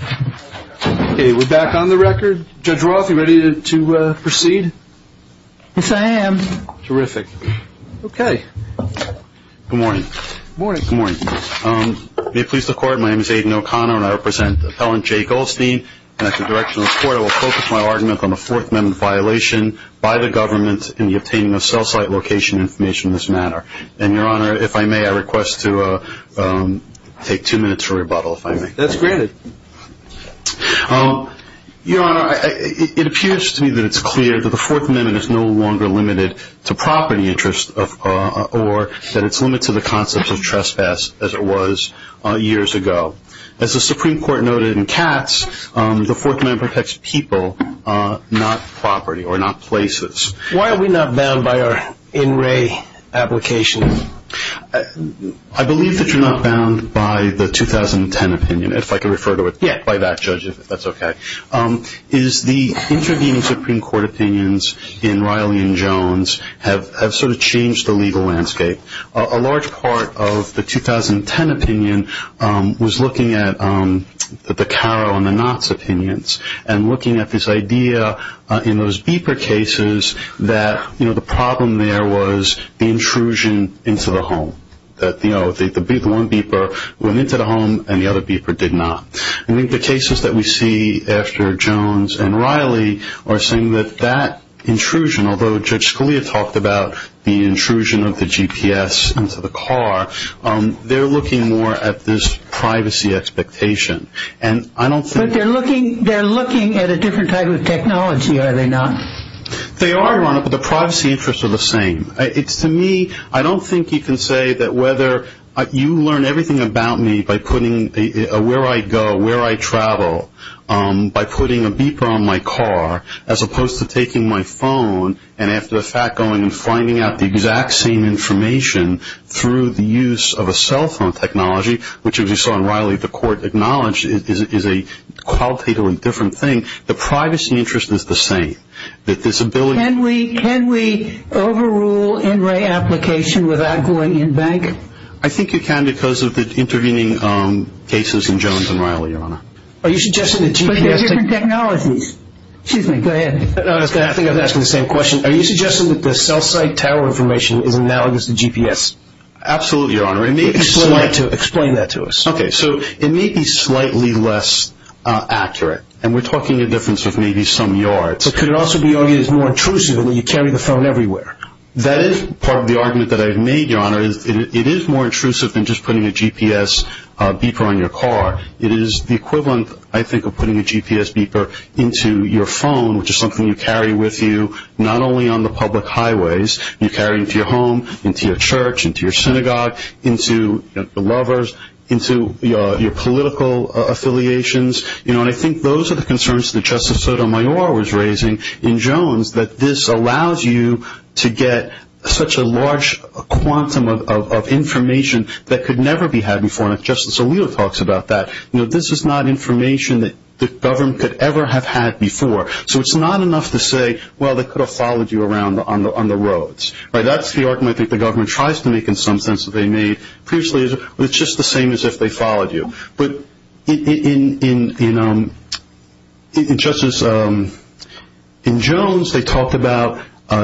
Okay, we're back on the record. Judge Roth, are you ready to proceed? Yes, I am. Terrific. Okay. Good morning. Good morning. Good morning. May it please the Court, my name is Aiden O'Connor and I represent Appellant Jay Goldstein, and at the direction of the Court I will focus my argument on the Fourth Amendment violation by the government in the obtaining of cell site location information in this matter. And, Your Honor, if I may, I request to take two minutes for rebuttal, if I may. That's granted. Your Honor, it appears to me that it's clear that the Fourth Amendment is no longer limited to property interest or that it's limited to the concept of trespass as it was years ago. As the Supreme Court noted in Katz, the Fourth Amendment protects people, not property or not places. Why are we not bound by our in-ray applications? I believe that you're not bound by the 2010 opinion, if I can refer to it by that, Judge, if that's okay. The intervening Supreme Court opinions in Riley and Jones have sort of changed the legal landscape. A large part of the 2010 opinion was looking at the Caro and the Knotts opinions and looking at this idea in those beeper cases that the problem there was the intrusion into the home, that the one beeper went into the home and the other beeper did not. I think the cases that we see after Jones and Riley are saying that that intrusion, although Judge Scalia talked about the intrusion of the GPS into the car, they're looking more at this privacy expectation. But they're looking at a different type of technology, are they not? They are, Your Honor, but the privacy interests are the same. It's to me, I don't think you can say that whether you learn everything about me by putting where I go, where I travel, by putting a beeper on my car as opposed to taking my phone and after the fact going and finding out the exact same information through the use of a cell phone technology, which as we saw in Riley the court acknowledged is a qualitatively different thing. The privacy interest is the same. Can we overrule NRA application without going in bank? I think you can because of the intervening cases in Jones and Riley, Your Honor. But they're different technologies. Excuse me, go ahead. I think I was asking the same question. Are you suggesting that the cell site tower information is analogous to GPS? Absolutely, Your Honor. Explain that to us. Okay, so it may be slightly less accurate, and we're talking a difference of maybe some yards. But could it also be argued as more intrusive when you carry the phone everywhere? That is part of the argument that I've made, Your Honor. It is more intrusive than just putting a GPS beeper on your car. It is the equivalent, I think, of putting a GPS beeper into your phone, which is something you carry with you not only on the public highways, you carry into your home, into your church, into your synagogue, into your lovers, into your political affiliations. And I think those are the concerns that Justice Sotomayor was raising in Jones, that this allows you to get such a large quantum of information that could never be had before. Justice Alito talks about that. This is not information that the government could ever have had before. So it's not enough to say, well, they could have followed you around on the roads. That's the argument that the government tries to make in some sense that they made previously. It's just the same as if they followed you. But in Jones,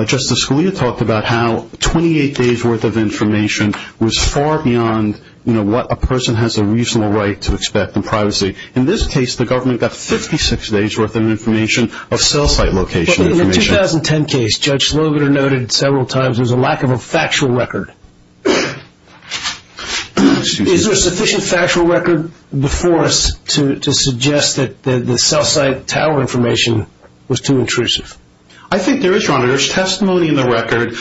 Justice Scalia talked about how 28 days' worth of information was far beyond what a person has a reasonable right to expect in privacy. In this case, the government got 56 days' worth of information of cell site location information. In the 2010 case, Judge Slogan noted several times there was a lack of a factual record. Is there sufficient factual record before us to suggest that the cell site tower information was too intrusive? I think there is, Your Honor. There's testimony in the record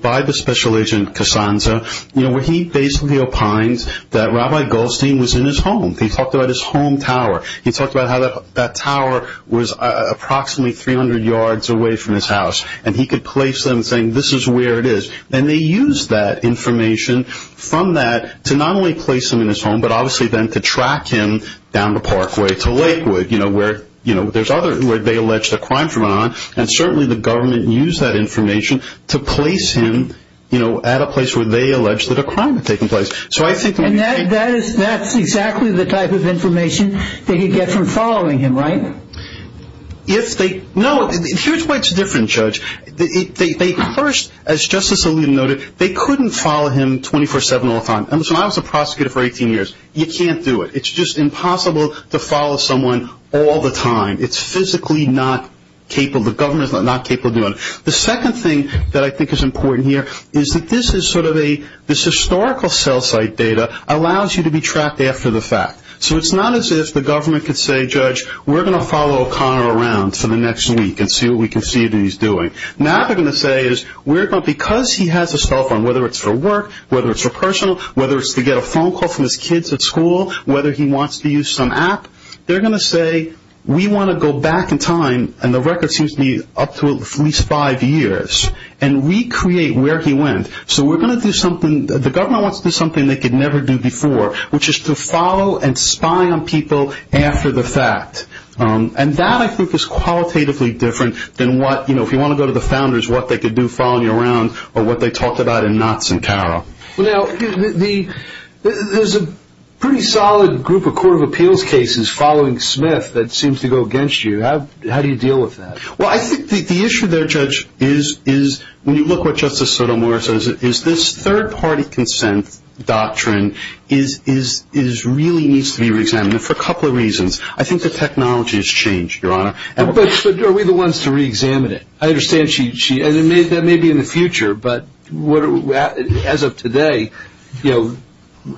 by the special agent, Casanza, where he basically opines that Rabbi Goldstein was in his home. He talked about his home tower. He talked about how that tower was approximately 300 yards away from his house. And he could place them saying, this is where it is. And they used that information from that to not only place him in his home, but obviously then to track him down the parkway to Lakewood, you know, where they alleged a crime had gone on. And certainly the government used that information to place him, you know, at a place where they alleged that a crime had taken place. And that's exactly the type of information that you get from following him, right? No. Here's why it's different, Judge. First, as Justice Alito noted, they couldn't follow him 24-7 all the time. I was a prosecutor for 18 years. You can't do it. It's just impossible to follow someone all the time. It's physically not capable. The government is not capable of doing it. The second thing that I think is important here is that this is sort of a, this historical cell site data allows you to be tracked after the fact. So it's not as if the government could say, Judge, we're going to follow O'Connor around for the next week and see what we can see that he's doing. Now they're going to say, because he has a cell phone, whether it's for work, whether it's for personal, whether it's to get a phone call from his kids at school, whether he wants to use some app, they're going to say, we want to go back in time, and the record seems to be up to at least five years, and recreate where he went. So we're going to do something, the government wants to do something they could never do before, which is to follow and spy on people after the fact. And that, I think, is qualitatively different than what, you know, if you want to go to the founders, what they could do following you around, or what they talked about in Knotts and Carroll. Now, there's a pretty solid group of court of appeals cases following Smith that seems to go against you. How do you deal with that? Well, I think the issue there, Judge, is when you look at what Justice Sotomayor says, is this third-party consent doctrine really needs to be reexamined for a couple of reasons. I think the technology has changed, Your Honor. But are we the ones to reexamine it? I understand she – and that may be in the future, but as of today, you know,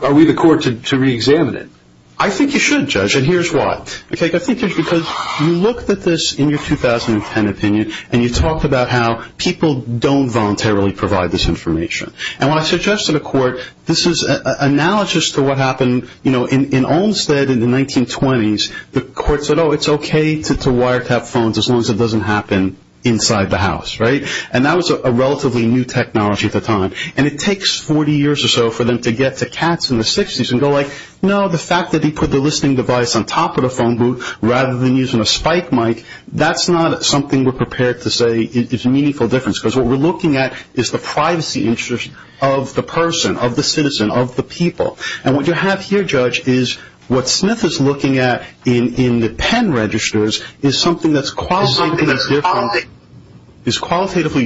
are we the court to reexamine it? I think you should, Judge, and here's why. I think it's because you looked at this in your 2010 opinion, and you talked about how people don't voluntarily provide this information. And what I suggest to the court, this is analogous to what happened, you know, in Olmstead in the 1920s. The courts said, oh, it's okay to wiretap phones as long as it doesn't happen inside the house, right? And that was a relatively new technology at the time. And it takes 40 years or so for them to get to Katz in the 60s and go like, No, the fact that he put the listening device on top of the phone booth rather than using a spike mic, that's not something we're prepared to say is a meaningful difference because what we're looking at is the privacy interest of the person, of the citizen, of the people. And what you have here, Judge, is what Smith is looking at in the pen registers is something that's qualitatively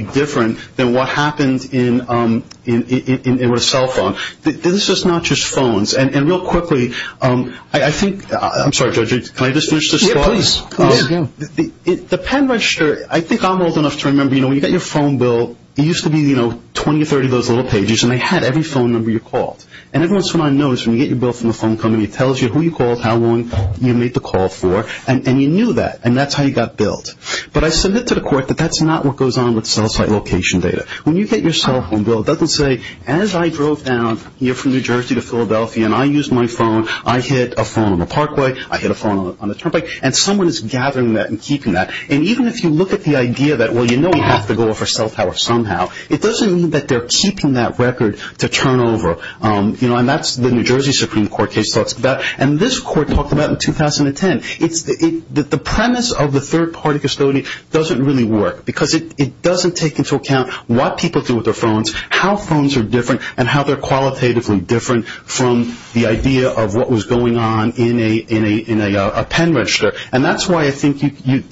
different than what happens in a cell phone. This is not just phones. And real quickly, I think, I'm sorry, Judge, can I just finish this thought? Yeah, please. The pen register, I think I'm old enough to remember, you know, when you get your phone bill, it used to be, you know, 20 or 30 of those little pages, and they had every phone number you called. And everyone I know is when you get your bill from the phone company, it tells you who you called, how long you made the call for, and you knew that, and that's how you got billed. But I submit to the court that that's not what goes on with cell site location data. When you get your cell phone bill, it doesn't say, as I drove down here from New Jersey to Philadelphia and I used my phone, I hit a phone on the parkway, I hit a phone on the turnpike, and someone is gathering that and keeping that. And even if you look at the idea that, well, you know we have to go over cell tower somehow, it doesn't mean that they're keeping that record to turn over. And that's the New Jersey Supreme Court case. And this court talked about it in 2010. The premise of the third-party custodian doesn't really work because it doesn't take into account what people do with their phones, how phones are different, and how they're qualitatively different from the idea of what was going on in a pen register. And that's why I think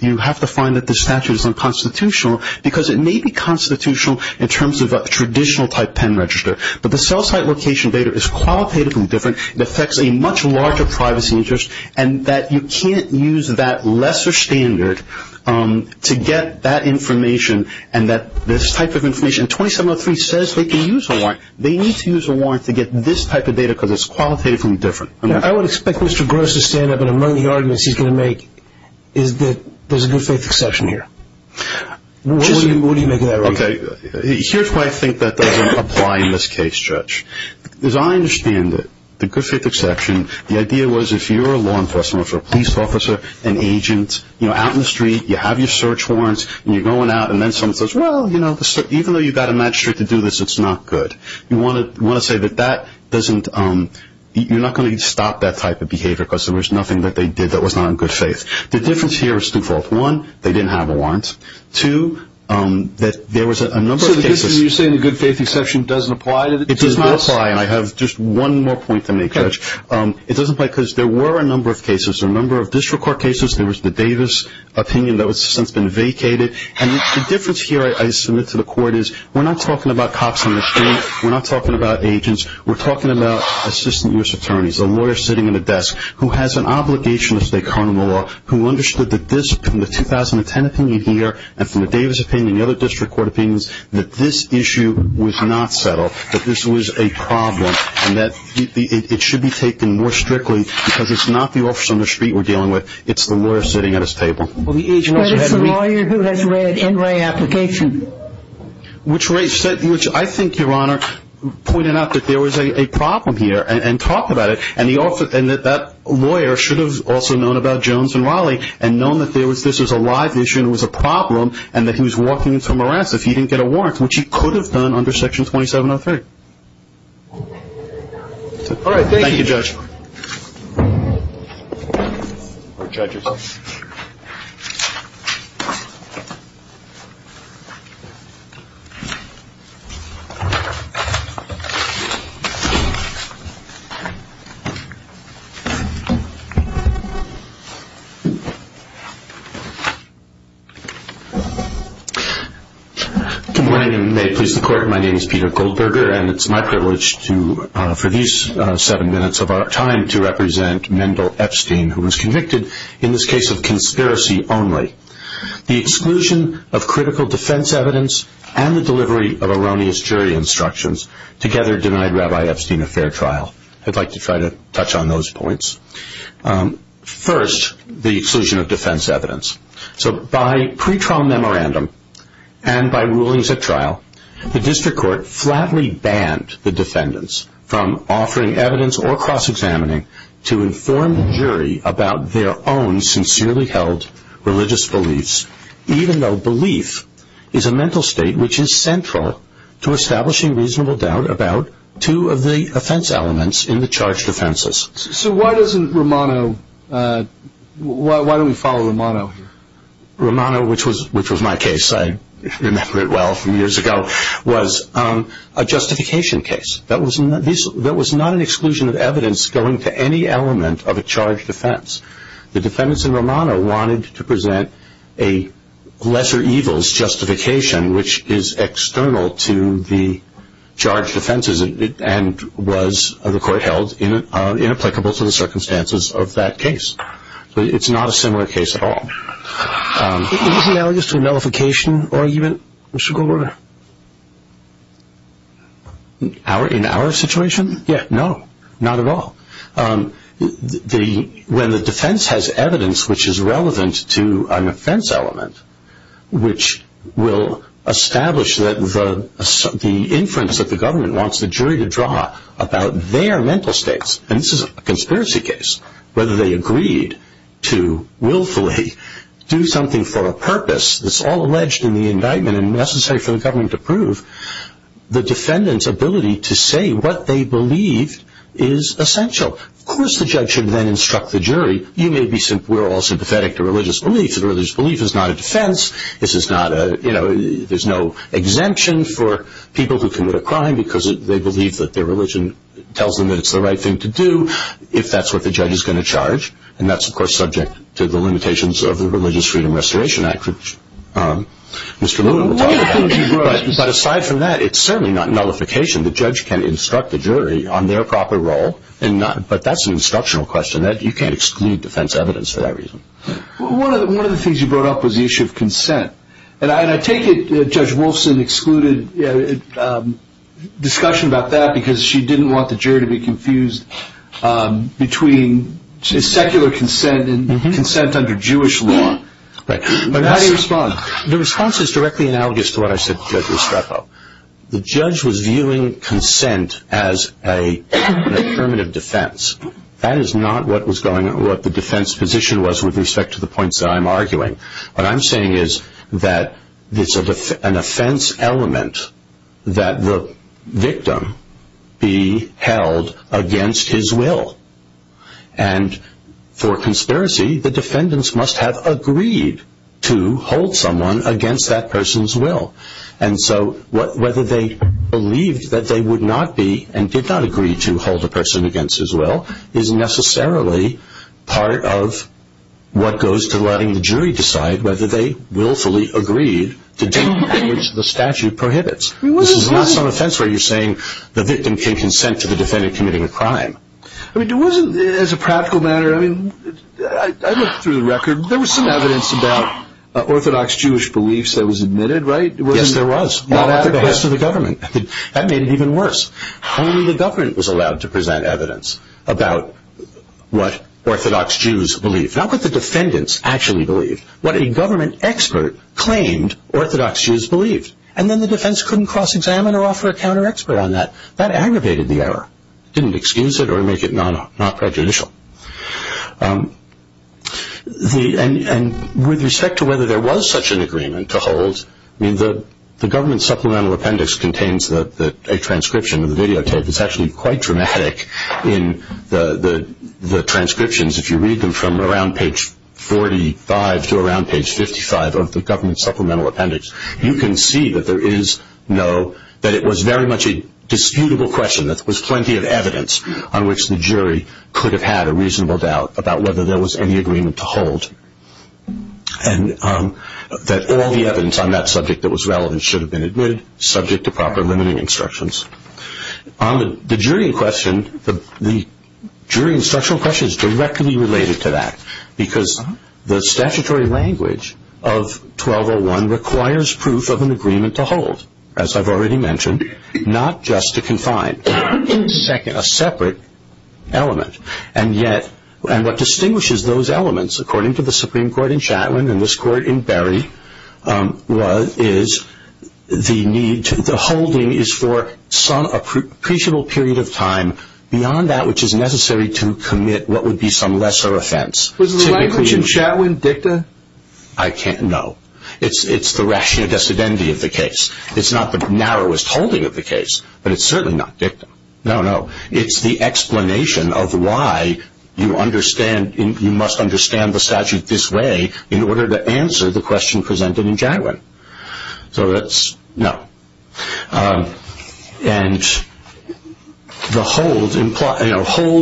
you have to find that the statute is unconstitutional because it may be constitutional in terms of a traditional type pen register, but the cell site location data is qualitatively different. It affects a much larger privacy interest, and that you can't use that lesser standard to get that information and this type of information. And 2703 says they can use a warrant. They need to use a warrant to get this type of data because it's qualitatively different. I would expect Mr. Gross to stand up and among the arguments he's going to make is that there's a good faith exception here. What do you make of that argument? Here's why I think that doesn't apply in this case, Judge. As I understand it, the good faith exception, the idea was if you're a law enforcement officer, a police officer, an agent, you know, out in the street, you have your search warrants, and you're going out and then someone says, well, you know, even though you've got a magistrate to do this, it's not good. You want to say that that doesn't, you're not going to stop that type of behavior because there was nothing that they did that was not in good faith. The difference here is twofold. One, they didn't have a warrant. Two, that there was a number of cases. So you're saying the good faith exception doesn't apply? It does not apply, and I have just one more point to make, Judge. It doesn't apply because there were a number of cases, a number of district court cases. There was the Davis opinion that has since been vacated, and the difference here I submit to the court is we're not talking about cops in the street. We're not talking about agents. We're talking about assistant U.S. attorneys, a lawyer sitting at a desk who has an obligation to stay current in the law, who understood that this from the 2010 opinion here and from the Davis opinion and the other district court opinions that this issue was not settled, that this was a problem, and that it should be taken more strictly because it's not the officer on the street we're dealing with. It's the lawyer sitting at his table. But it's the lawyer who has read NRA application. Which I think, Your Honor, pointed out that there was a problem here and talked about it, and that that lawyer should have also known about Jones and Raleigh and known that this was a live issue and it was a problem and that he was walking into a morass if he didn't get a warrant, which he could have done under Section 2703. All right. Thank you. Thank you, Judge. Thank you. Court judges. Good morning, and may it please the Court, my name is Peter Goldberger, and it's my privilege for these seven minutes of our time to represent Mendel Epstein, who was convicted in this case of conspiracy only. The exclusion of critical defense evidence and the delivery of erroneous jury instructions together denied Rabbi Epstein a fair trial. I'd like to try to touch on those points. First, the exclusion of defense evidence. The district court flatly banned the defendants from offering evidence or cross-examining to inform the jury about their own sincerely held religious beliefs, even though belief is a mental state which is central to establishing reasonable doubt about two of the offense elements in the charged offenses. So why doesn't Romano, why don't we follow Romano here? Which was my case, I remember it well from years ago, was a justification case. That was not an exclusion of evidence going to any element of a charged offense. The defendants in Romano wanted to present a lesser evils justification which is external to the charged offenses and was, the Court held, inapplicable to the circumstances of that case. It's not a similar case at all. Is this analogous to a nullification argument, Mr. Goldwater? In our situation? Yeah, no, not at all. When the defense has evidence which is relevant to an offense element which will establish that the inference that the government wants the jury to draw about their mental states, and this is a conspiracy case, whether they agreed to willfully do something for a purpose that's all alleged in the indictment and necessary for the government to prove, the defendant's ability to say what they believe is essential. Of course the judge should then instruct the jury, we're all sympathetic to religious beliefs, religious belief is not a defense, there's no exemption for people who commit a crime because they believe that their religion tells them that it's the right thing to do, if that's what the judge is going to charge, and that's of course subject to the limitations of the Religious Freedom Restoration Act, which Mr. Moon will talk about. But aside from that, it's certainly not nullification, the judge can instruct the jury on their proper role, but that's an instructional question, you can't exclude defense evidence for that reason. One of the things you brought up was the issue of consent, and I take it Judge Wolfson excluded discussion about that because she didn't want the jury to be confused between secular consent and consent under Jewish law. How do you respond? The response is directly analogous to what I said to Judge Restrepo. The judge was viewing consent as a permanent defense, that is not what the defense position was with respect to the points that I'm arguing. What I'm saying is that it's an offense element that the victim be held against his will, and for conspiracy the defendants must have agreed to hold someone against that person's will. And so whether they believed that they would not be, and did not agree to hold a person against his will, is necessarily part of what goes to letting the jury decide whether they willfully agreed to do what the statute prohibits. This is not some offense where you're saying the victim can consent to the defendant committing a crime. As a practical matter, I looked through the record, there was some evidence about orthodox Jewish beliefs that was admitted, right? Yes, there was. Not after the arrest of the government. That made it even worse. Only the government was allowed to present evidence about what orthodox Jews believed. Not what the defendants actually believed. What a government expert claimed orthodox Jews believed. And then the defense couldn't cross-examine or offer a counter-expert on that. That aggravated the error. Didn't excuse it or make it non-prejudicial. And with respect to whether there was such an agreement to hold, the government supplemental appendix contains a transcription of the videotape that's actually quite dramatic in the transcriptions. If you read them from around page 45 to around page 55 of the government supplemental appendix, you can see that there is no, that it was very much a disputable question, that there was plenty of evidence on which the jury could have had a reasonable doubt about whether there was any agreement to hold. And that all the evidence on that subject that was relevant should have been admitted, subject to proper limiting instructions. The jury in question, the jury instructional question is directly related to that because the statutory language of 1201 requires proof of an agreement to hold, as I've already mentioned, not just to confine a separate element. And yet, and what distinguishes those elements, according to the Supreme Court in Chatwin and this Court in Berry, is the need, the holding is for some appreciable period of time beyond that which is necessary to commit what would be some lesser offense. Was the language in Chatwin dicta? I can't, no. It's the rational dissidentity of the case. It's not the narrowest holding of the case, but it's certainly not dicta. No, no. It's the explanation of why you must understand the statute this way in order to answer the question presented in Chatwin. So that's no. And to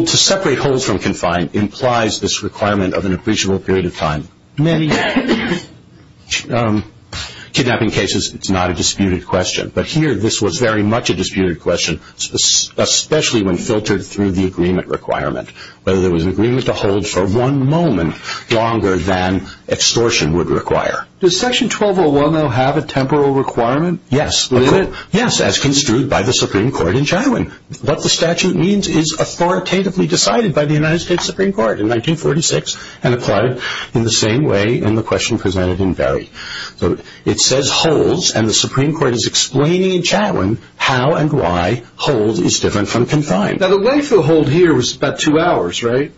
separate holds from confine implies this requirement of an appreciable period of time. Many kidnapping cases, it's not a disputed question. But here, this was very much a disputed question, especially when filtered through the agreement requirement, whether there was an agreement to hold for one moment longer than extortion would require. Does Section 1201, though, have a temporal requirement? Yes, as construed by the Supreme Court in Chatwin. What the statute means is authoritatively decided by the United States Supreme Court in 1946 and applied in the same way in the question presented in Berry. So it says holds, and the Supreme Court is explaining in Chatwin how and why hold is different from confine. Now, the wait for the hold here was about two hours, right?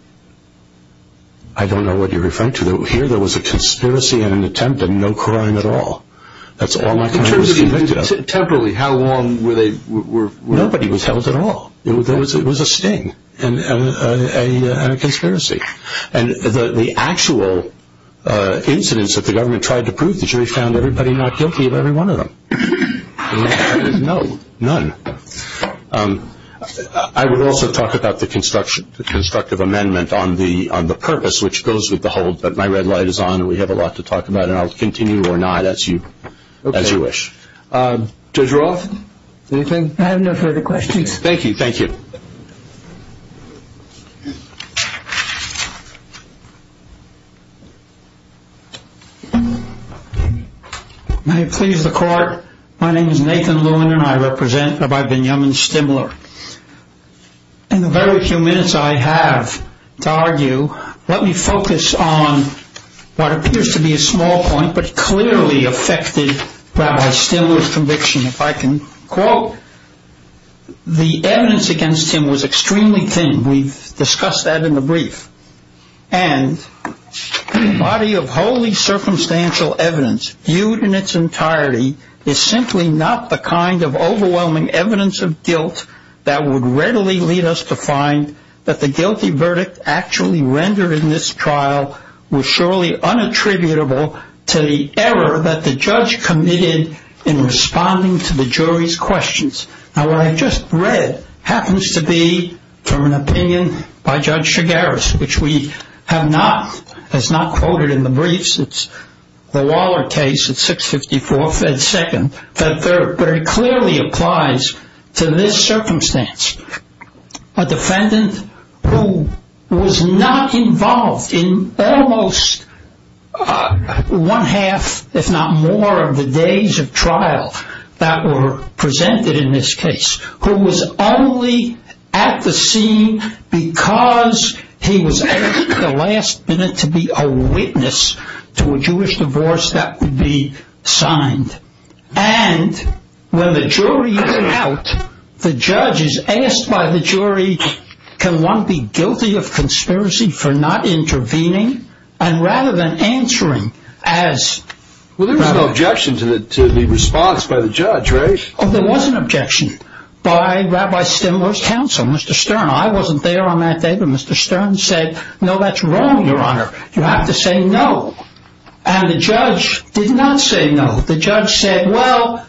I don't know what you're referring to. Here there was a conspiracy and an attempt and no crime at all. That's all my client was convicted of. In terms of temporally, how long were they? It was a sting and a conspiracy. And the actual incidents that the government tried to prove, the jury found everybody not guilty of every one of them. No, none. I would also talk about the constructive amendment on the purpose, which goes with the hold, but my red light is on and we have a lot to talk about, and I'll continue or not as you wish. Judge Roth, anything? I have no further questions. Thank you. Thank you. May it please the Court. My name is Nathan Lewin, and I represent Rabbi Benjamin Stimler. In the very few minutes I have to argue, let me focus on what appears to be a small point, but clearly affected Rabbi Stimler's conviction. If I can quote, the evidence against him was extremely thin. We've discussed that in the brief. And the body of wholly circumstantial evidence viewed in its entirety is simply not the kind of overwhelming evidence of guilt that would readily lead us to find that the guilty verdict actually rendered in this trial was surely unattributable to the error that the judge committed in responding to the jury's questions. Now, what I've just read happens to be from an opinion by Judge Chigaris, which we have not, has not quoted in the briefs. It's the Waller case at 654 Fed Second that very clearly applies to this circumstance. A defendant who was not involved in almost one half, if not more, of the days of trial that were presented in this case, who was only at the scene because he was asked at the last minute to be a witness to a Jewish divorce that would be signed. And when the jury is out, the judge is asked by the jury, can one be guilty of conspiracy for not intervening and rather than answering as... Well, there was an objection to the response by the judge, right? Oh, there was an objection by Rabbi Stimler's counsel, Mr. Stern. I wasn't there on that day, but Mr. Stern said, no, that's wrong, Your Honor. You have to say no. And the judge did not say no. The judge said, well,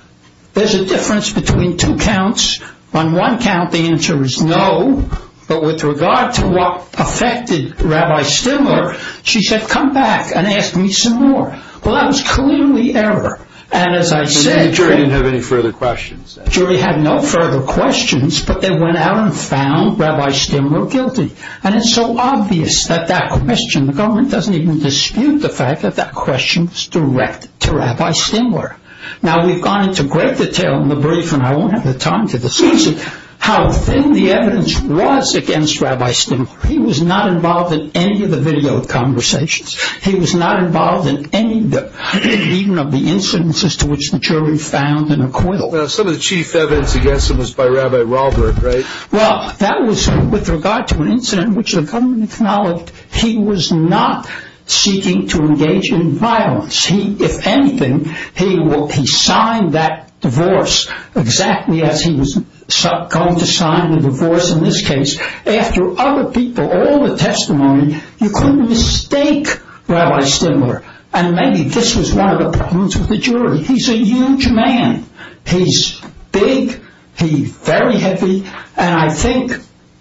there's a difference between two counts. On one count, the answer is no. But with regard to what affected Rabbi Stimler, she said, come back and ask me some more. Well, that was clearly error. And as I said... The jury didn't have any further questions. The jury had no further questions, but they went out and found Rabbi Stimler guilty. And it's so obvious that that question... The government doesn't even dispute the fact that that question was direct to Rabbi Stimler. Now, we've gone into great detail in the brief, and I won't have the time to discuss it, how thin the evidence was against Rabbi Stimler. He was not involved in any of the video conversations. He was not involved in any of the... even of the incidences to which the jury found an acquittal. Some of the chief evidence against him was by Rabbi Robert, right? Well, that was with regard to an incident which the government acknowledged he was not seeking to engage in violence. If anything, he signed that divorce exactly as he was going to sign the divorce in this case. After other people, all the testimony, you couldn't mistake Rabbi Stimler. And maybe this was one of the problems with the jury. He's a huge man. He's big. He's very heavy. And I think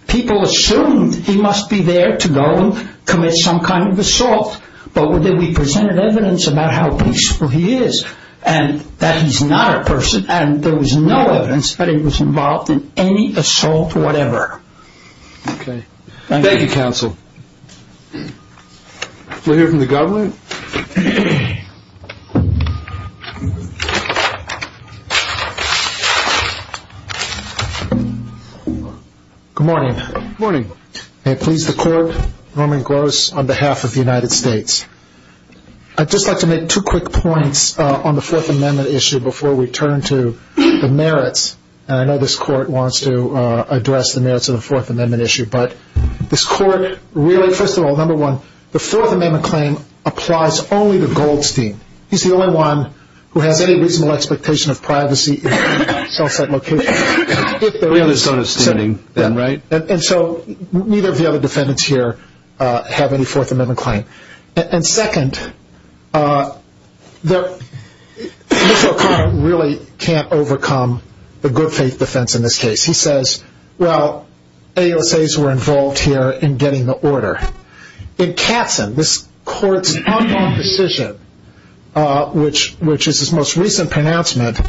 people assumed he must be there to go and commit some kind of assault. But we presented evidence about how peaceful he is, and that he's not a person, and there was no evidence that he was involved in any assault, whatever. Okay. Thank you, counsel. We'll hear from the government. Good morning. Good morning. May it please the Court, Norman Gross on behalf of the United States. I'd just like to make two quick points on the Fourth Amendment issue before we turn to the merits. And I know this Court wants to address the merits of the Fourth Amendment issue, but this Court really, first of all, number one, the Fourth Amendment claim applies only to Goldstein. He's the only one who has any reasonable expectation of privacy in a cell site location. We have a zone of standing then, right? And so neither of the other defendants here have any Fourth Amendment claim. And second, Mr. O'Connor really can't overcome the good faith defense in this case. He says, well, AUSAs were involved here in getting the order. In Katzen, this Court's outlaw position, which is its most recent pronouncement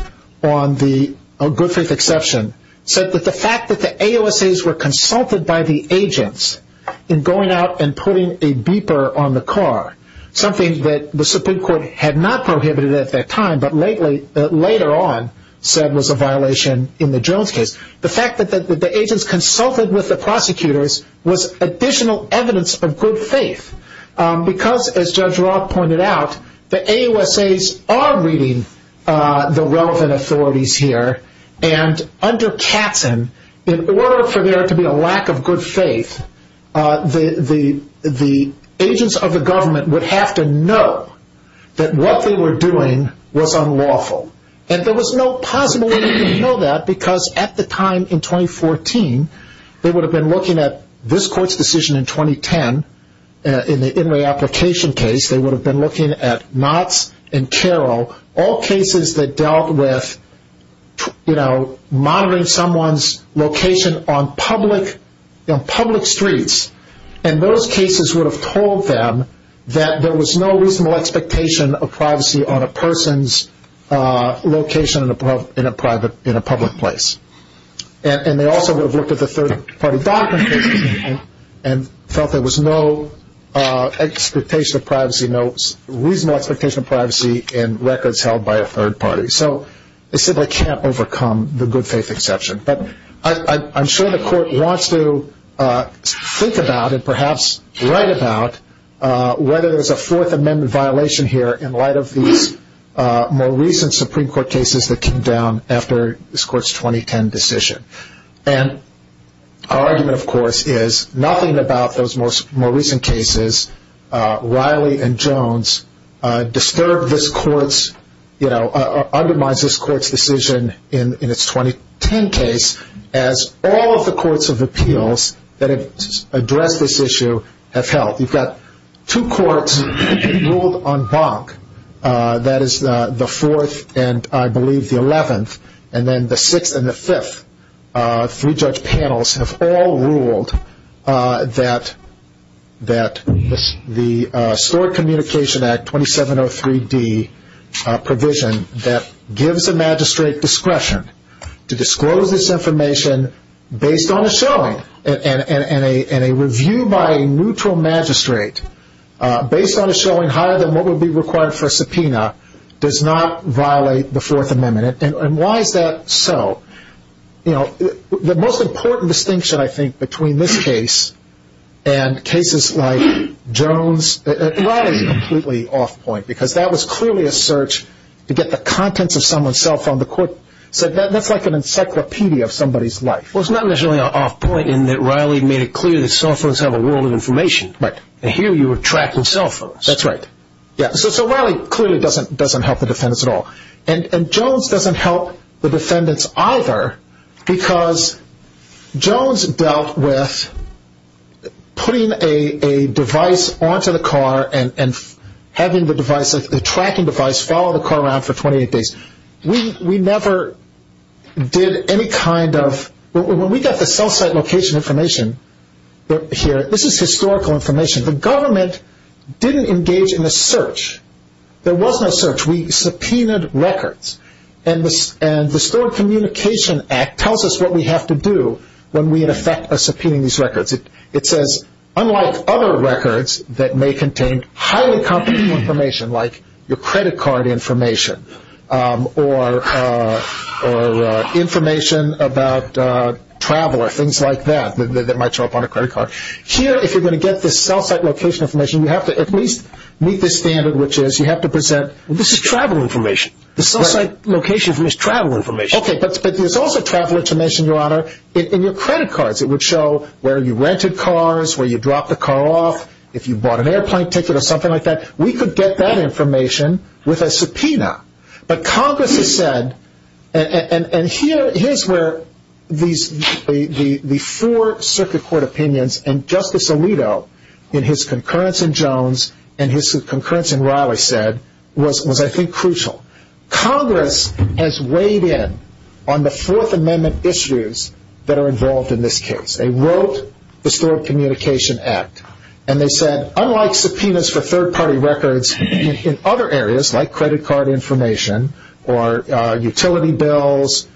on the good faith exception, said that the fact that the AUSAs were consulted by the agents in going out and putting a beeper on the car, something that the Supreme Court had not prohibited at that time but later on said was a violation in the Jones case, the fact that the agents consulted with the prosecutors was additional evidence of good faith. Because, as Judge Roth pointed out, the AUSAs are reading the relevant authorities here, and under Katzen, in order for there to be a lack of good faith, the agents of the government would have to know that what they were doing was unlawful. And there was no possible way they would know that, because at the time in 2014, they would have been looking at this Court's decision in 2010, in the in re-application case, they would have been looking at Knotts and Carroll, all cases that dealt with monitoring someone's location on public streets. And those cases would have told them that there was no reasonable expectation of privacy on a person's location in a public place. And they also would have looked at the third party documents and felt there was no expectation of privacy, no reasonable expectation of privacy in records held by a third party. So they simply can't overcome the good faith exception. But I'm sure the Court wants to think about, and perhaps write about, whether there's a Fourth Amendment violation here in light of these more recent Supreme Court cases that came down after this Court's 2010 decision. And our argument, of course, is nothing about those more recent cases, Riley and Jones, disturb this Court's, you know, undermine this Court's decision in its 2010 case, as all of the courts of appeals that have addressed this issue have held. You've got two courts ruled en banc, that is the Fourth and, I believe, the Eleventh, and then the Sixth and the Fifth. Three judge panels have all ruled that the Stored Communication Act 2703D provision that gives a magistrate discretion to disclose this information based on a showing and a review by a neutral magistrate based on a showing higher than what would be required for a subpoena does not violate the Fourth Amendment. And why is that so? You know, the most important distinction, I think, between this case and cases like Jones, Riley is completely off point because that was clearly a search to get the contents of someone's cell phone. The Court said that's like an encyclopedia of somebody's life. Well, it's not necessarily an off point in that Riley made it clear that cell phones have a world of information. Right. And here you were tracking cell phones. That's right. So Riley clearly doesn't help the defense at all. And Jones doesn't help the defendants either because Jones dealt with putting a device onto the car and having the tracking device follow the car around for 28 days. We never did any kind of – when we got the cell site location information here, this is historical information. The government didn't engage in a search. There was no search. We subpoenaed records. And the Stored Communication Act tells us what we have to do when we, in effect, are subpoenaing these records. It says, unlike other records that may contain highly confidential information like your credit card information or information about travel or things like that that might show up on a credit card, here if you're going to get this cell site location information, you have to at least meet this standard, which is you have to present – This is travel information. The cell site location is travel information. Okay, but there's also travel information, Your Honor, in your credit cards. It would show where you rented cars, where you dropped the car off, if you bought an airplane ticket or something like that. We could get that information with a subpoena. But Congress has said – and here's where the four circuit court opinions and Justice Alito in his concurrence in Jones and his concurrence in Riley said was, I think, crucial. Congress has weighed in on the Fourth Amendment issues that are involved in this case. They wrote the Stored Communication Act. And they said, unlike subpoenas for third-party records in other areas like credit card information or utility bills,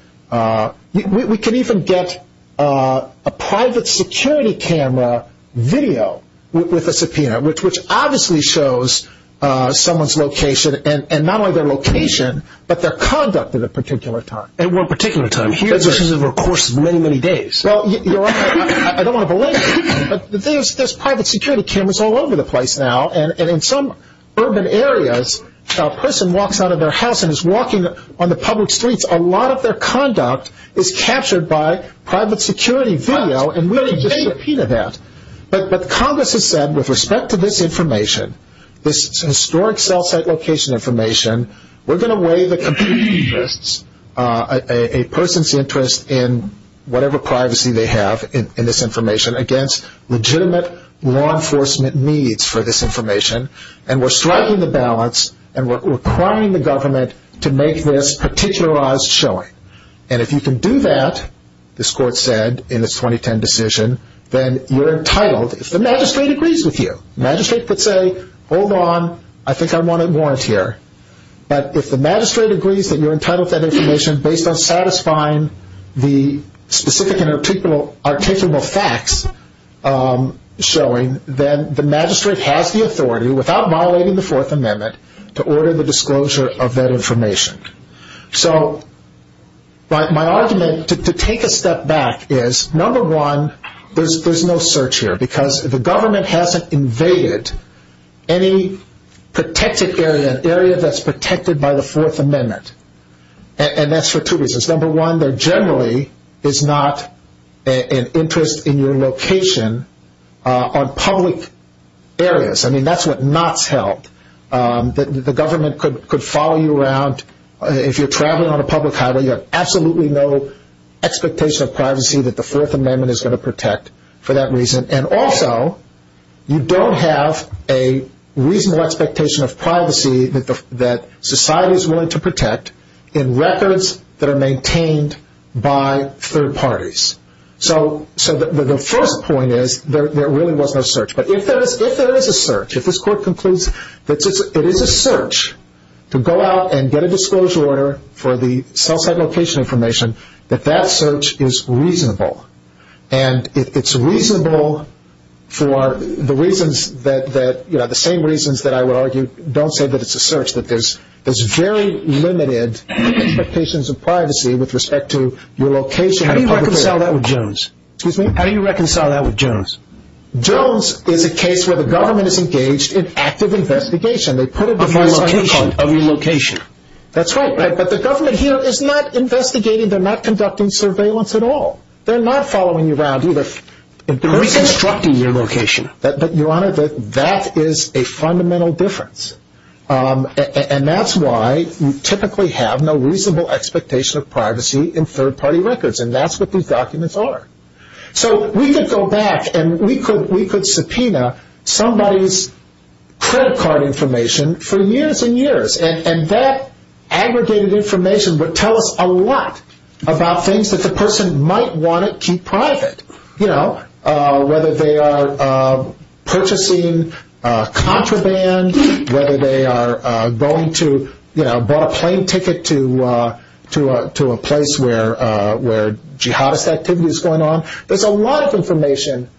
we could even get a private security camera video with a subpoena, which obviously shows someone's location and not only their location but their conduct at a particular time. At one particular time. This is over the course of many, many days. Well, Your Honor, I don't want to belabor it, but there's private security cameras all over the place now. And in some urban areas, a person walks out of their house and is walking on the public streets. A lot of their conduct is captured by private security video and we can just subpoena that. But Congress has said, with respect to this information, this historic cell site location information, we're going to weigh a person's interest in whatever privacy they have in this information against legitimate law enforcement needs for this information. And we're striking the balance and we're requiring the government to make this particularized showing. And if you can do that, this Court said in its 2010 decision, then you're entitled, if the magistrate agrees with you. The magistrate could say, hold on, I think I want to warrant here. But if the magistrate agrees that you're entitled to that information based on satisfying the specific and articulable facts showing, then the magistrate has the authority, without violating the Fourth Amendment, to order the disclosure of that information. So my argument to take a step back is, number one, there's no search here. Because the government hasn't invaded any protected area, an area that's protected by the Fourth Amendment. And that's for two reasons. Number one, there generally is not an interest in your location on public areas. I mean, that's what knots held. The government could follow you around. If you're traveling on a public highway, you have absolutely no expectation of privacy that the Fourth Amendment is going to protect for that reason. And also, you don't have a reasonable expectation of privacy that society is willing to protect in records that are maintained by third parties. So the first point is, there really was no search. But if there is a search, if this Court concludes that it is a search to go out and get a disclosure order for the cell site location information, that that search is reasonable. And it's reasonable for the reasons that, you know, the same reasons that I would argue, don't say that it's a search. That there's very limited expectations of privacy with respect to your location. How do you reconcile that with Jones? Excuse me? How do you reconcile that with Jones? Jones is a case where the government is engaged in active investigation. They put it before a citation. Of your location. That's right. But the government here is not investigating. They're not conducting surveillance at all. They're not following you around either. They're reconstructing your location. But, Your Honor, that is a fundamental difference. And that's why you typically have no reasonable expectation of privacy in third party records. And that's what these documents are. So we could go back and we could subpoena somebody's credit card information for years and years. And that aggregated information would tell us a lot about things that the person might want to keep private. You know, whether they are purchasing contraband, whether they are going to, you know, bought a plane ticket to a place where jihadist activity is going on. There's a lot of information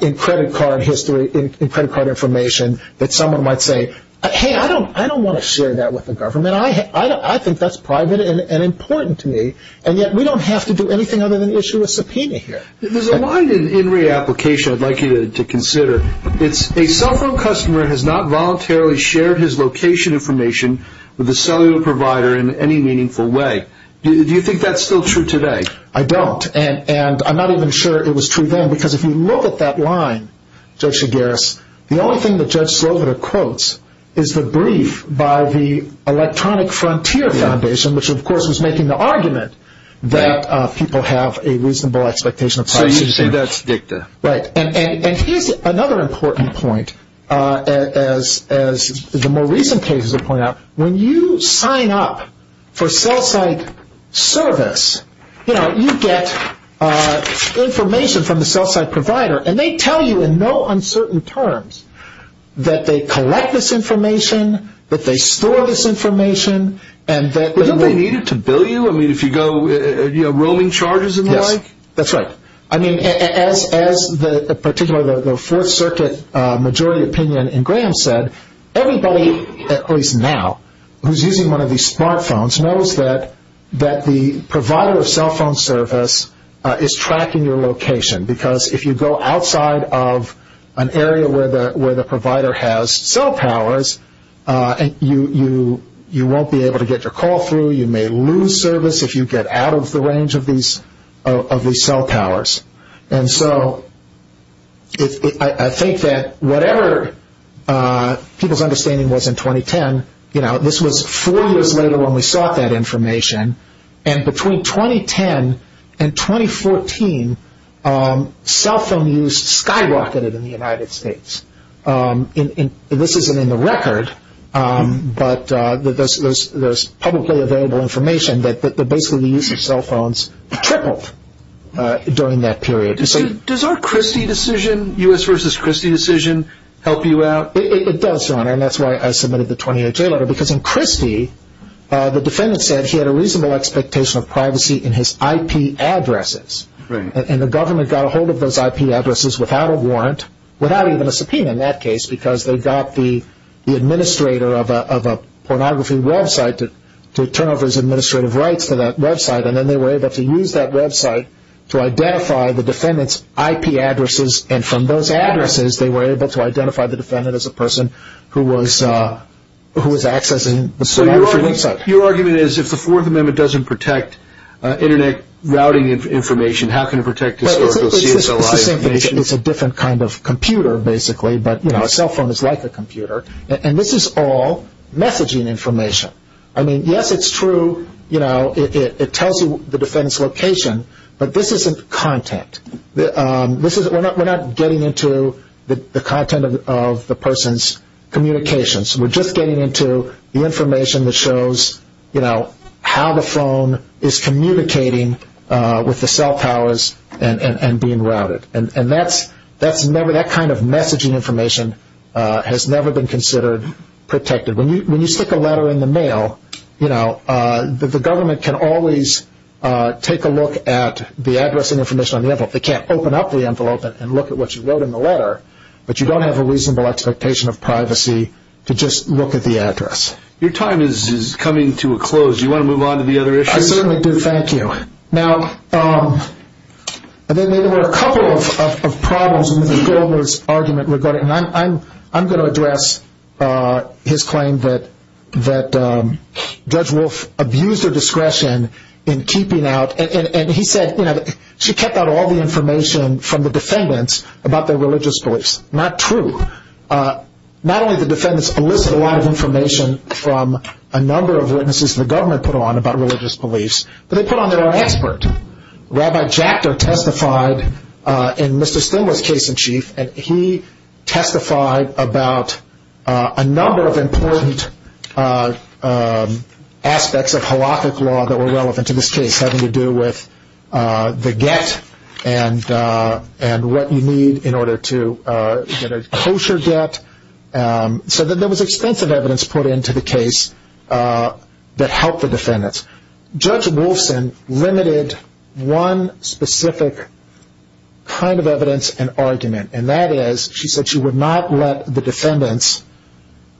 in credit card history, in credit card information, that someone might say, hey, I don't want to share that with the government. I think that's private and important to me. And yet we don't have to do anything other than issue a subpoena here. There's a line in re-application I'd like you to consider. It's a cell phone customer has not voluntarily shared his location information with a cellular provider in any meaningful way. Do you think that's still true today? I don't. And I'm not even sure it was true then. Because if you look at that line, Judge Shigaris, the only thing that Judge Sloboda quotes is the brief by the Electronic Frontier Foundation, which of course was making the argument that people have a reasonable expectation of privacy. So you'd say that's dicta. Right. And here's another important point. As the more recent cases have pointed out, when you sign up for cell site service, you know, And they tell you in no uncertain terms that they collect this information, that they store this information. But don't they need it to bill you? I mean, if you go roaming charges and the like? Yes, that's right. I mean, as the Fourth Circuit majority opinion in Graham said, everybody, at least now, who's using one of these smart phones knows that the provider of cell phone service is tracking your location. Because if you go outside of an area where the provider has cell powers, you won't be able to get your call through. You may lose service if you get out of the range of these cell powers. And so I think that whatever people's understanding was in 2010, you know, this was four years later when we sought that information. And between 2010 and 2014, cell phone use skyrocketed in the United States. This isn't in the record, but there's publicly available information that basically the use of cell phones tripled during that period. Does our Christie decision, U.S. v. Christie decision, help you out? It does, Your Honor. And that's why I submitted the 28-J letter. Because in Christie, the defendant said he had a reasonable expectation of privacy in his IP addresses. And the government got a hold of those IP addresses without a warrant, without even a subpoena in that case, because they got the administrator of a pornography website to turn over his administrative rights to that website. And then they were able to use that website to identify the defendant's IP addresses. And from those addresses, they were able to identify the defendant as a person who was accessing the pornography website. So your argument is if the Fourth Amendment doesn't protect Internet routing information, how can it protect historical CSLI information? It's the same thing. It's a different kind of computer, basically. But, you know, a cell phone is like a computer. And this is all messaging information. I mean, yes, it's true. You know, it tells you the defendant's location. But this isn't content. We're not getting into the content of the person's communications. We're just getting into the information that shows, you know, how the phone is communicating with the cell towers and being routed. And that kind of messaging information has never been considered protected. When you stick a letter in the mail, you know, the government can always take a look at the address and information on the envelope. They can't open up the envelope and look at what you wrote in the letter. But you don't have a reasonable expectation of privacy to just look at the address. Your time is coming to a close. Do you want to move on to the other issues? I certainly do. Thank you. Now, there were a couple of problems in Mr. Goldner's argument regarding, and I'm going to address his claim that Judge Wolf abused her discretion in keeping out, and he said she kept out all the information from the defendants about their religious beliefs. Not true. Not only did the defendants elicit a lot of information from a number of witnesses the government put on about religious beliefs, but they put on there an expert. Rabbi Jackter testified in Mr. Stilwell's case in chief, and he testified about a number of important aspects of Halachic law that were relevant to this case, having to do with the get and what you need in order to get a kosher get. So there was extensive evidence put into the case that helped the defendants. Judge Wolfson limited one specific kind of evidence and argument, and that is she said she would not let the defendants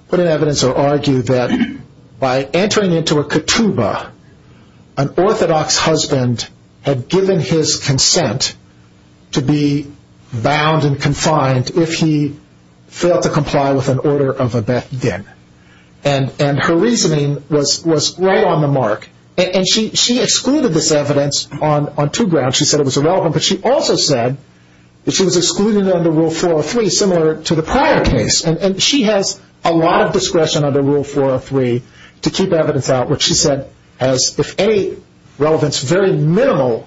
put in evidence or argue that by entering into a ketubah, an orthodox husband had given his consent to be bound and confined if he failed to comply with an order of a bethgen. And her reasoning was right on the mark. And she excluded this evidence on two grounds. She said it was irrelevant, but she also said that she was excluded under Rule 403, similar to the prior case. And she has a lot of discretion under Rule 403 to keep evidence out, which she said has, if any relevance, very minimal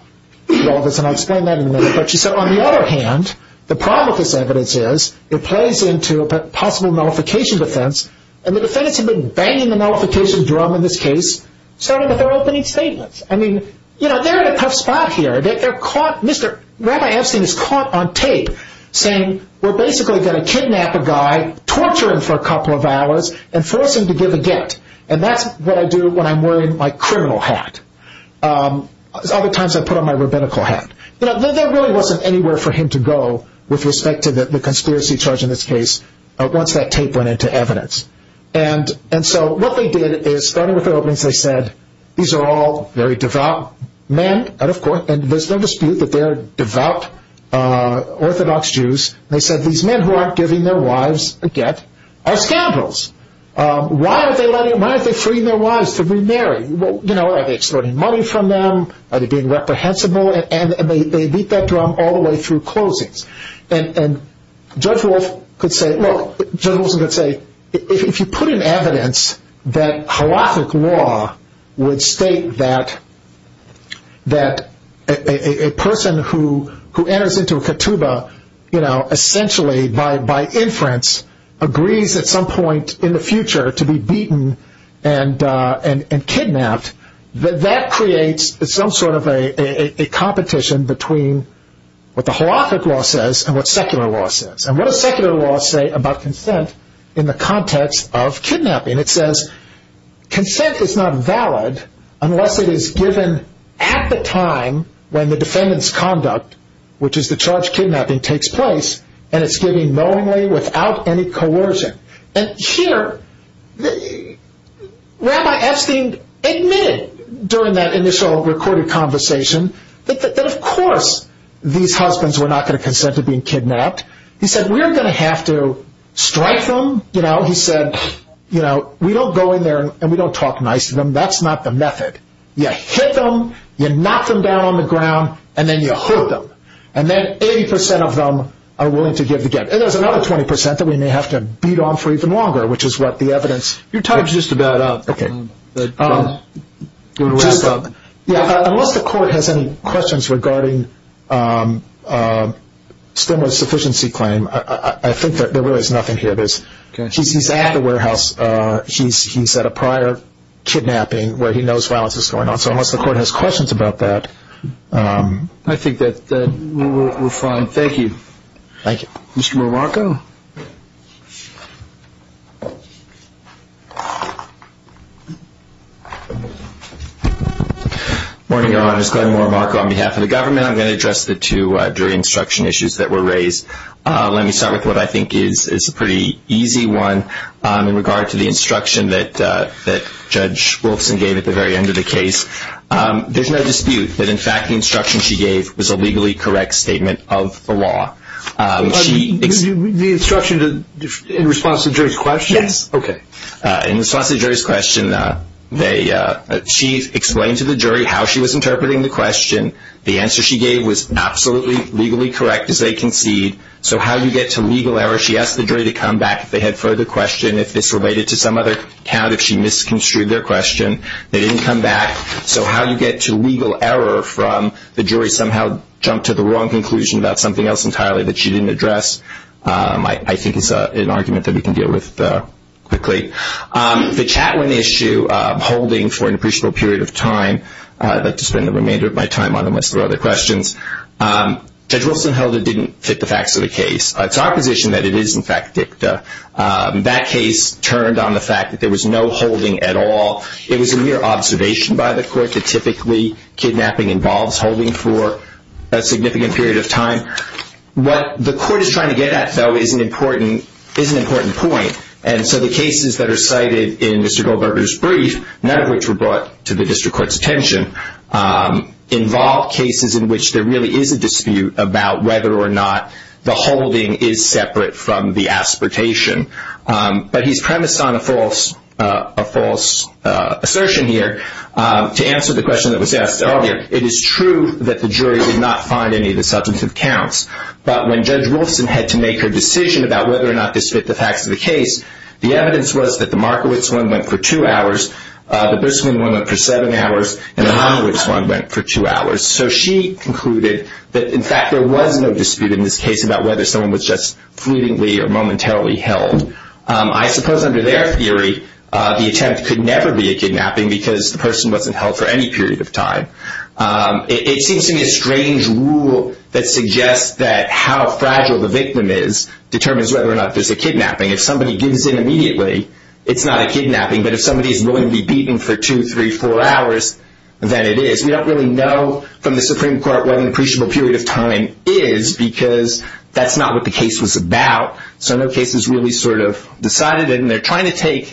relevance, and I'll explain that in a minute. But she said on the other hand, the problem with this evidence is it plays into a possible nullification defense, and the defendants have been banging the nullification drum in this case, starting with their opening statements. I mean, they're in a tough spot here. Rabbi Epstein is caught on tape saying we're basically going to kidnap a guy, torture him for a couple of hours, and force him to give a get, and that's what I do when I'm wearing my criminal hat. Other times I put on my rabbinical hat. There really wasn't anywhere for him to go with respect to the conspiracy charge in this case once that tape went into evidence. And so what they did is, starting with their openings, they said these are all very devout men, and of course, there's no dispute that they're devout Orthodox Jews. They said these men who aren't giving their wives a get are scoundrels. Why aren't they freeing their wives to remarry? Are they extorting money from them? Are they being reprehensible? And they beat that drum all the way through closings. And Judge Wilson could say, if you put in evidence that halachic law would state that a person who enters into a ketubah, essentially by inference, agrees at some point in the future to be beaten and kidnapped, that that creates some sort of a competition between what the halachic law says and what secular law says. And what does secular law say about consent in the context of kidnapping? It says consent is not valid unless it is given at the time when the defendant's conduct, which is the charge of kidnapping, takes place, and it's given knowingly without any coercion. And here, Rabbi Epstein admitted during that initial recorded conversation that of course these husbands were not going to consent to being kidnapped. He said, we're going to have to strike them. He said, we don't go in there and we don't talk nice to them. That's not the method. You hit them, you knock them down on the ground, and then you hold them. And then 80% of them are willing to give the gift. And there's another 20% that we may have to beat on for even longer, which is what the evidence. Your time is just about up. Okay. We're going to wrap up. Yeah, unless the court has any questions regarding Stimler's sufficiency claim, I think there really is nothing here. He's at the warehouse. He's at a prior kidnapping where he knows violence is going on. So unless the court has questions about that. I think that we're fine. Thank you. Thank you. Mr. Marmarco? Good morning, Your Honor. It's Glenn Marmarco on behalf of the government. I'm going to address the two jury instruction issues that were raised. Let me start with what I think is a pretty easy one in regard to the instruction that Judge Wolfson gave at the very end of the case. There's no dispute that, in fact, the instruction she gave was a legally correct statement of the law. The instruction in response to the jury's question? Yes. Okay. In response to the jury's question, she explained to the jury how she was interpreting the question. The answer she gave was absolutely legally correct as they concede. So how do you get to legal error? She asked the jury to come back if they had further questions, if this related to some other count, if she misconstrued their question. They didn't come back. So how do you get to legal error from the jury somehow jumped to the wrong conclusion about something else entirely that she didn't address? I think it's an argument that we can deal with quickly. The Chatwin issue, holding for an appreciable period of time, I'd like to spend the remainder of my time on unless there are other questions. Judge Wolfson held it didn't fit the facts of the case. It's our position that it is, in fact, dicta. That case turned on the fact that there was no holding at all. It was a mere observation by the court that typically kidnapping involves holding for a significant period of time. What the court is trying to get at, though, is an important point. And so the cases that are cited in Mr. Goldberger's brief, none of which were brought to the district court's attention, involve cases in which there really is a dispute about whether or not the holding is separate from the aspertation. But he's premised on a false assertion here. To answer the question that was asked earlier, it is true that the jury did not find any of the substantive counts. But when Judge Wolfson had to make her decision about whether or not this fit the facts of the case, the evidence was that the Markowitz one went for two hours, the Briscoe one went for seven hours, and the Honowitz one went for two hours. So she concluded that, in fact, there was no dispute in this case about whether someone was just fluently or momentarily held. I suppose under their theory, the attempt could never be a kidnapping because the person wasn't held for any period of time. It seems to me a strange rule that suggests that how fragile the victim is determines whether or not there's a kidnapping. If somebody gives in immediately, it's not a kidnapping. But if somebody is willing to be beaten for two, three, four hours, then it is. We don't really know from the Supreme Court what an appreciable period of time is because that's not what the case was about. So no case is really sort of decided. And they're trying to take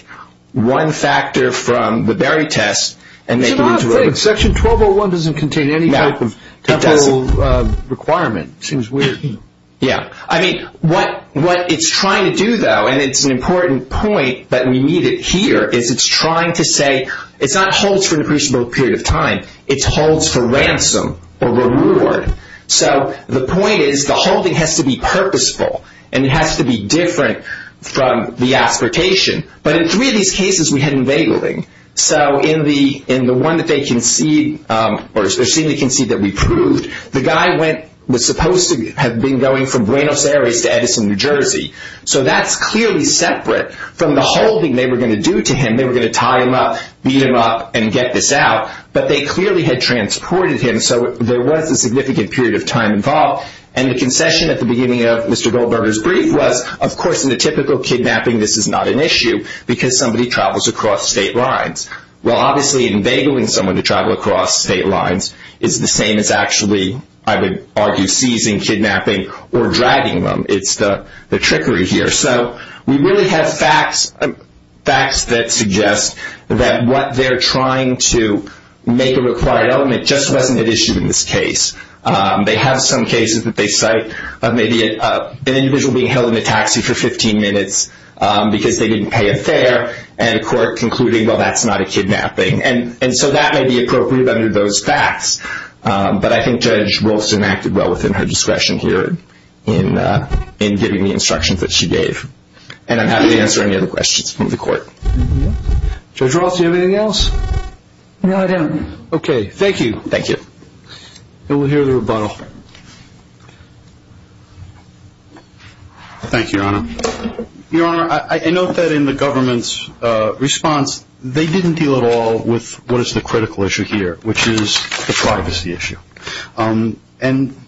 one factor from the Berry test and make it into a- Section 1201 doesn't contain any type of requirement. It seems weird. Yeah. I mean, what it's trying to do, though, and it's an important point that we need it here, is it's trying to say it's not holds for an appreciable period of time. It's holds for ransom or reward. So the point is the holding has to be purposeful, and it has to be different from the aspiratation. But in three of these cases, we had unveiling. So in the one that they conceded or seemingly conceded that we proved, the guy was supposed to have been going from Buenos Aires to Edison, New Jersey. So that's clearly separate from the holding they were going to do to him. They were going to tie him up, beat him up, and get this out. But they clearly had transported him, so there was a significant period of time involved. And the concession at the beginning of Mr. Goldberger's brief was, of course, in a typical kidnapping, this is not an issue because somebody travels across state lines. Well, obviously, unveiling someone to travel across state lines is the same as actually, I would argue, seizing, kidnapping, or dragging them. It's the trickery here. So we really have facts that suggest that what they're trying to make a required element just wasn't an issue in this case. They have some cases that they cite of maybe an individual being held in a taxi for 15 minutes because they didn't pay a fare, and a court concluding, well, that's not a kidnapping. And so that may be appropriate under those facts. But I think Judge Rolston acted well within her discretion here in giving the instructions that she gave. And I'm happy to answer any other questions from the court. Judge Rolston, do you have anything else? No, I don't. Okay, thank you. Thank you. And we'll hear the rebuttal. Thank you, Your Honor. Your Honor, I note that in the government's response, they didn't deal at all with what is the critical issue here, which is the privacy issue. And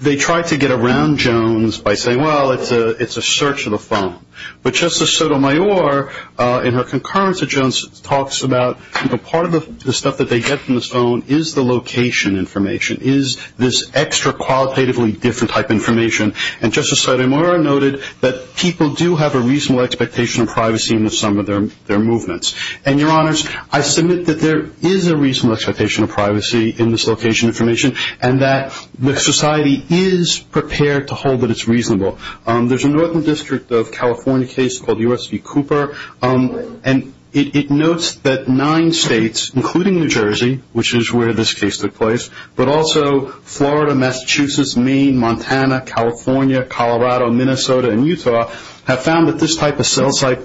they tried to get around Jones by saying, well, it's a search of the phone. But Justice Sotomayor, in her concurrence at Jones, talks about part of the stuff that they get from this phone is the location information, is this extra qualitatively different type information. And Justice Sotomayor noted that people do have a reasonable expectation of privacy in some of their movements. And, Your Honors, I submit that there is a reasonable expectation of privacy in this location information and that the society is prepared to hold that it's reasonable. There's a Northern District of California case called the U.S. v. Cooper, and it notes that nine states, including New Jersey, which is where this case took place, but also Florida, Massachusetts, Maine, Montana, California, Colorado, Minnesota, and Utah, have found that this type of cell site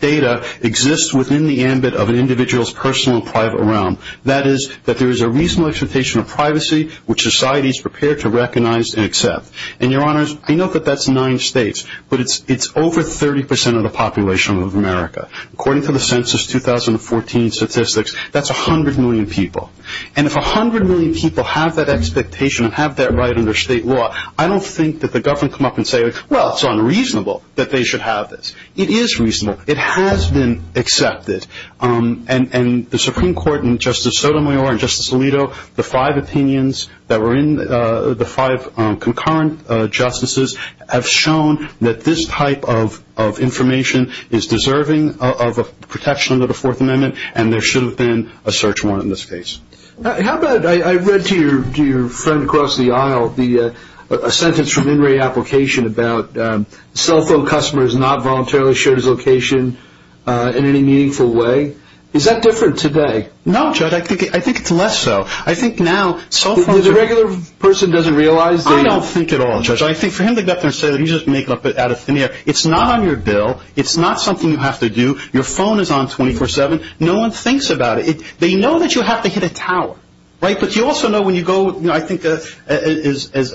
data exists within the ambit of an individual's personal and private realm. That is, that there is a reasonable expectation of privacy, which society is prepared to recognize and accept. And, Your Honors, I know that that's nine states, but it's over 30% of the population of America. According to the Census 2014 statistics, that's 100 million people. And if 100 million people have that expectation and have that right under state law, I don't think that the government will come up and say, well, it's unreasonable that they should have this. It is reasonable. It has been accepted. And the Supreme Court and Justice Sotomayor and Justice Alito, the five opinions that were in the five concurrent justices, have shown that this type of information is deserving of protection under the Fourth Amendment, and there should have been a search warrant in this case. I read to your friend across the aisle a sentence from an in-ray application about cell phone customers not voluntarily sharing their location in any meaningful way. Is that different today? No, Judge, I think it's less so. I think now cell phones are- The regular person doesn't realize that- I don't think at all, Judge. I think for him to get up there and say that you just make it up out of thin air, it's not on your bill, it's not something you have to do, your phone is on 24-7, no one thinks about it. They know that you have to hit a tower, right? But you also know when you go, I think, as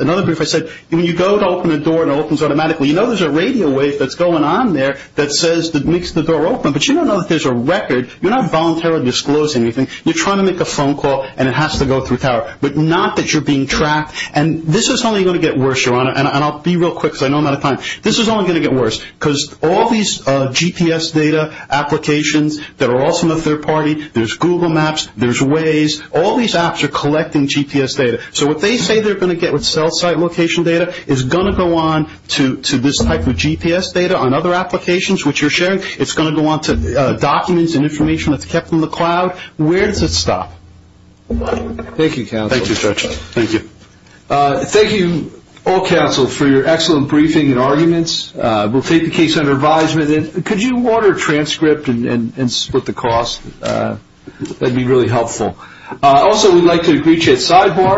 another group has said, when you go to open a door and it opens automatically, you know there's a radio wave that's going on there that makes the door open, but you don't know that there's a record. You're not voluntarily disclosing anything. You're trying to make a phone call and it has to go through a tower, but not that you're being tracked. And this is only going to get worse, Your Honor, and I'll be real quick because I know I'm out of time. This is only going to get worse because all these GPS data applications that are also in the third party, there's Google Maps, there's Waze, all these apps are collecting GPS data. So what they say they're going to get with cell site location data is going to go on to this type of GPS data on other applications which you're sharing. It's going to go on to documents and information that's kept in the cloud. Where does it stop? Thank you, counsel. Thank you, Judge. Thank you. Thank you, all counsel, for your excellent briefing and arguments. We'll take the case under advisement. Could you order a transcript and split the cost? That would be really helpful. Also, we'd like to greet you at sidebar.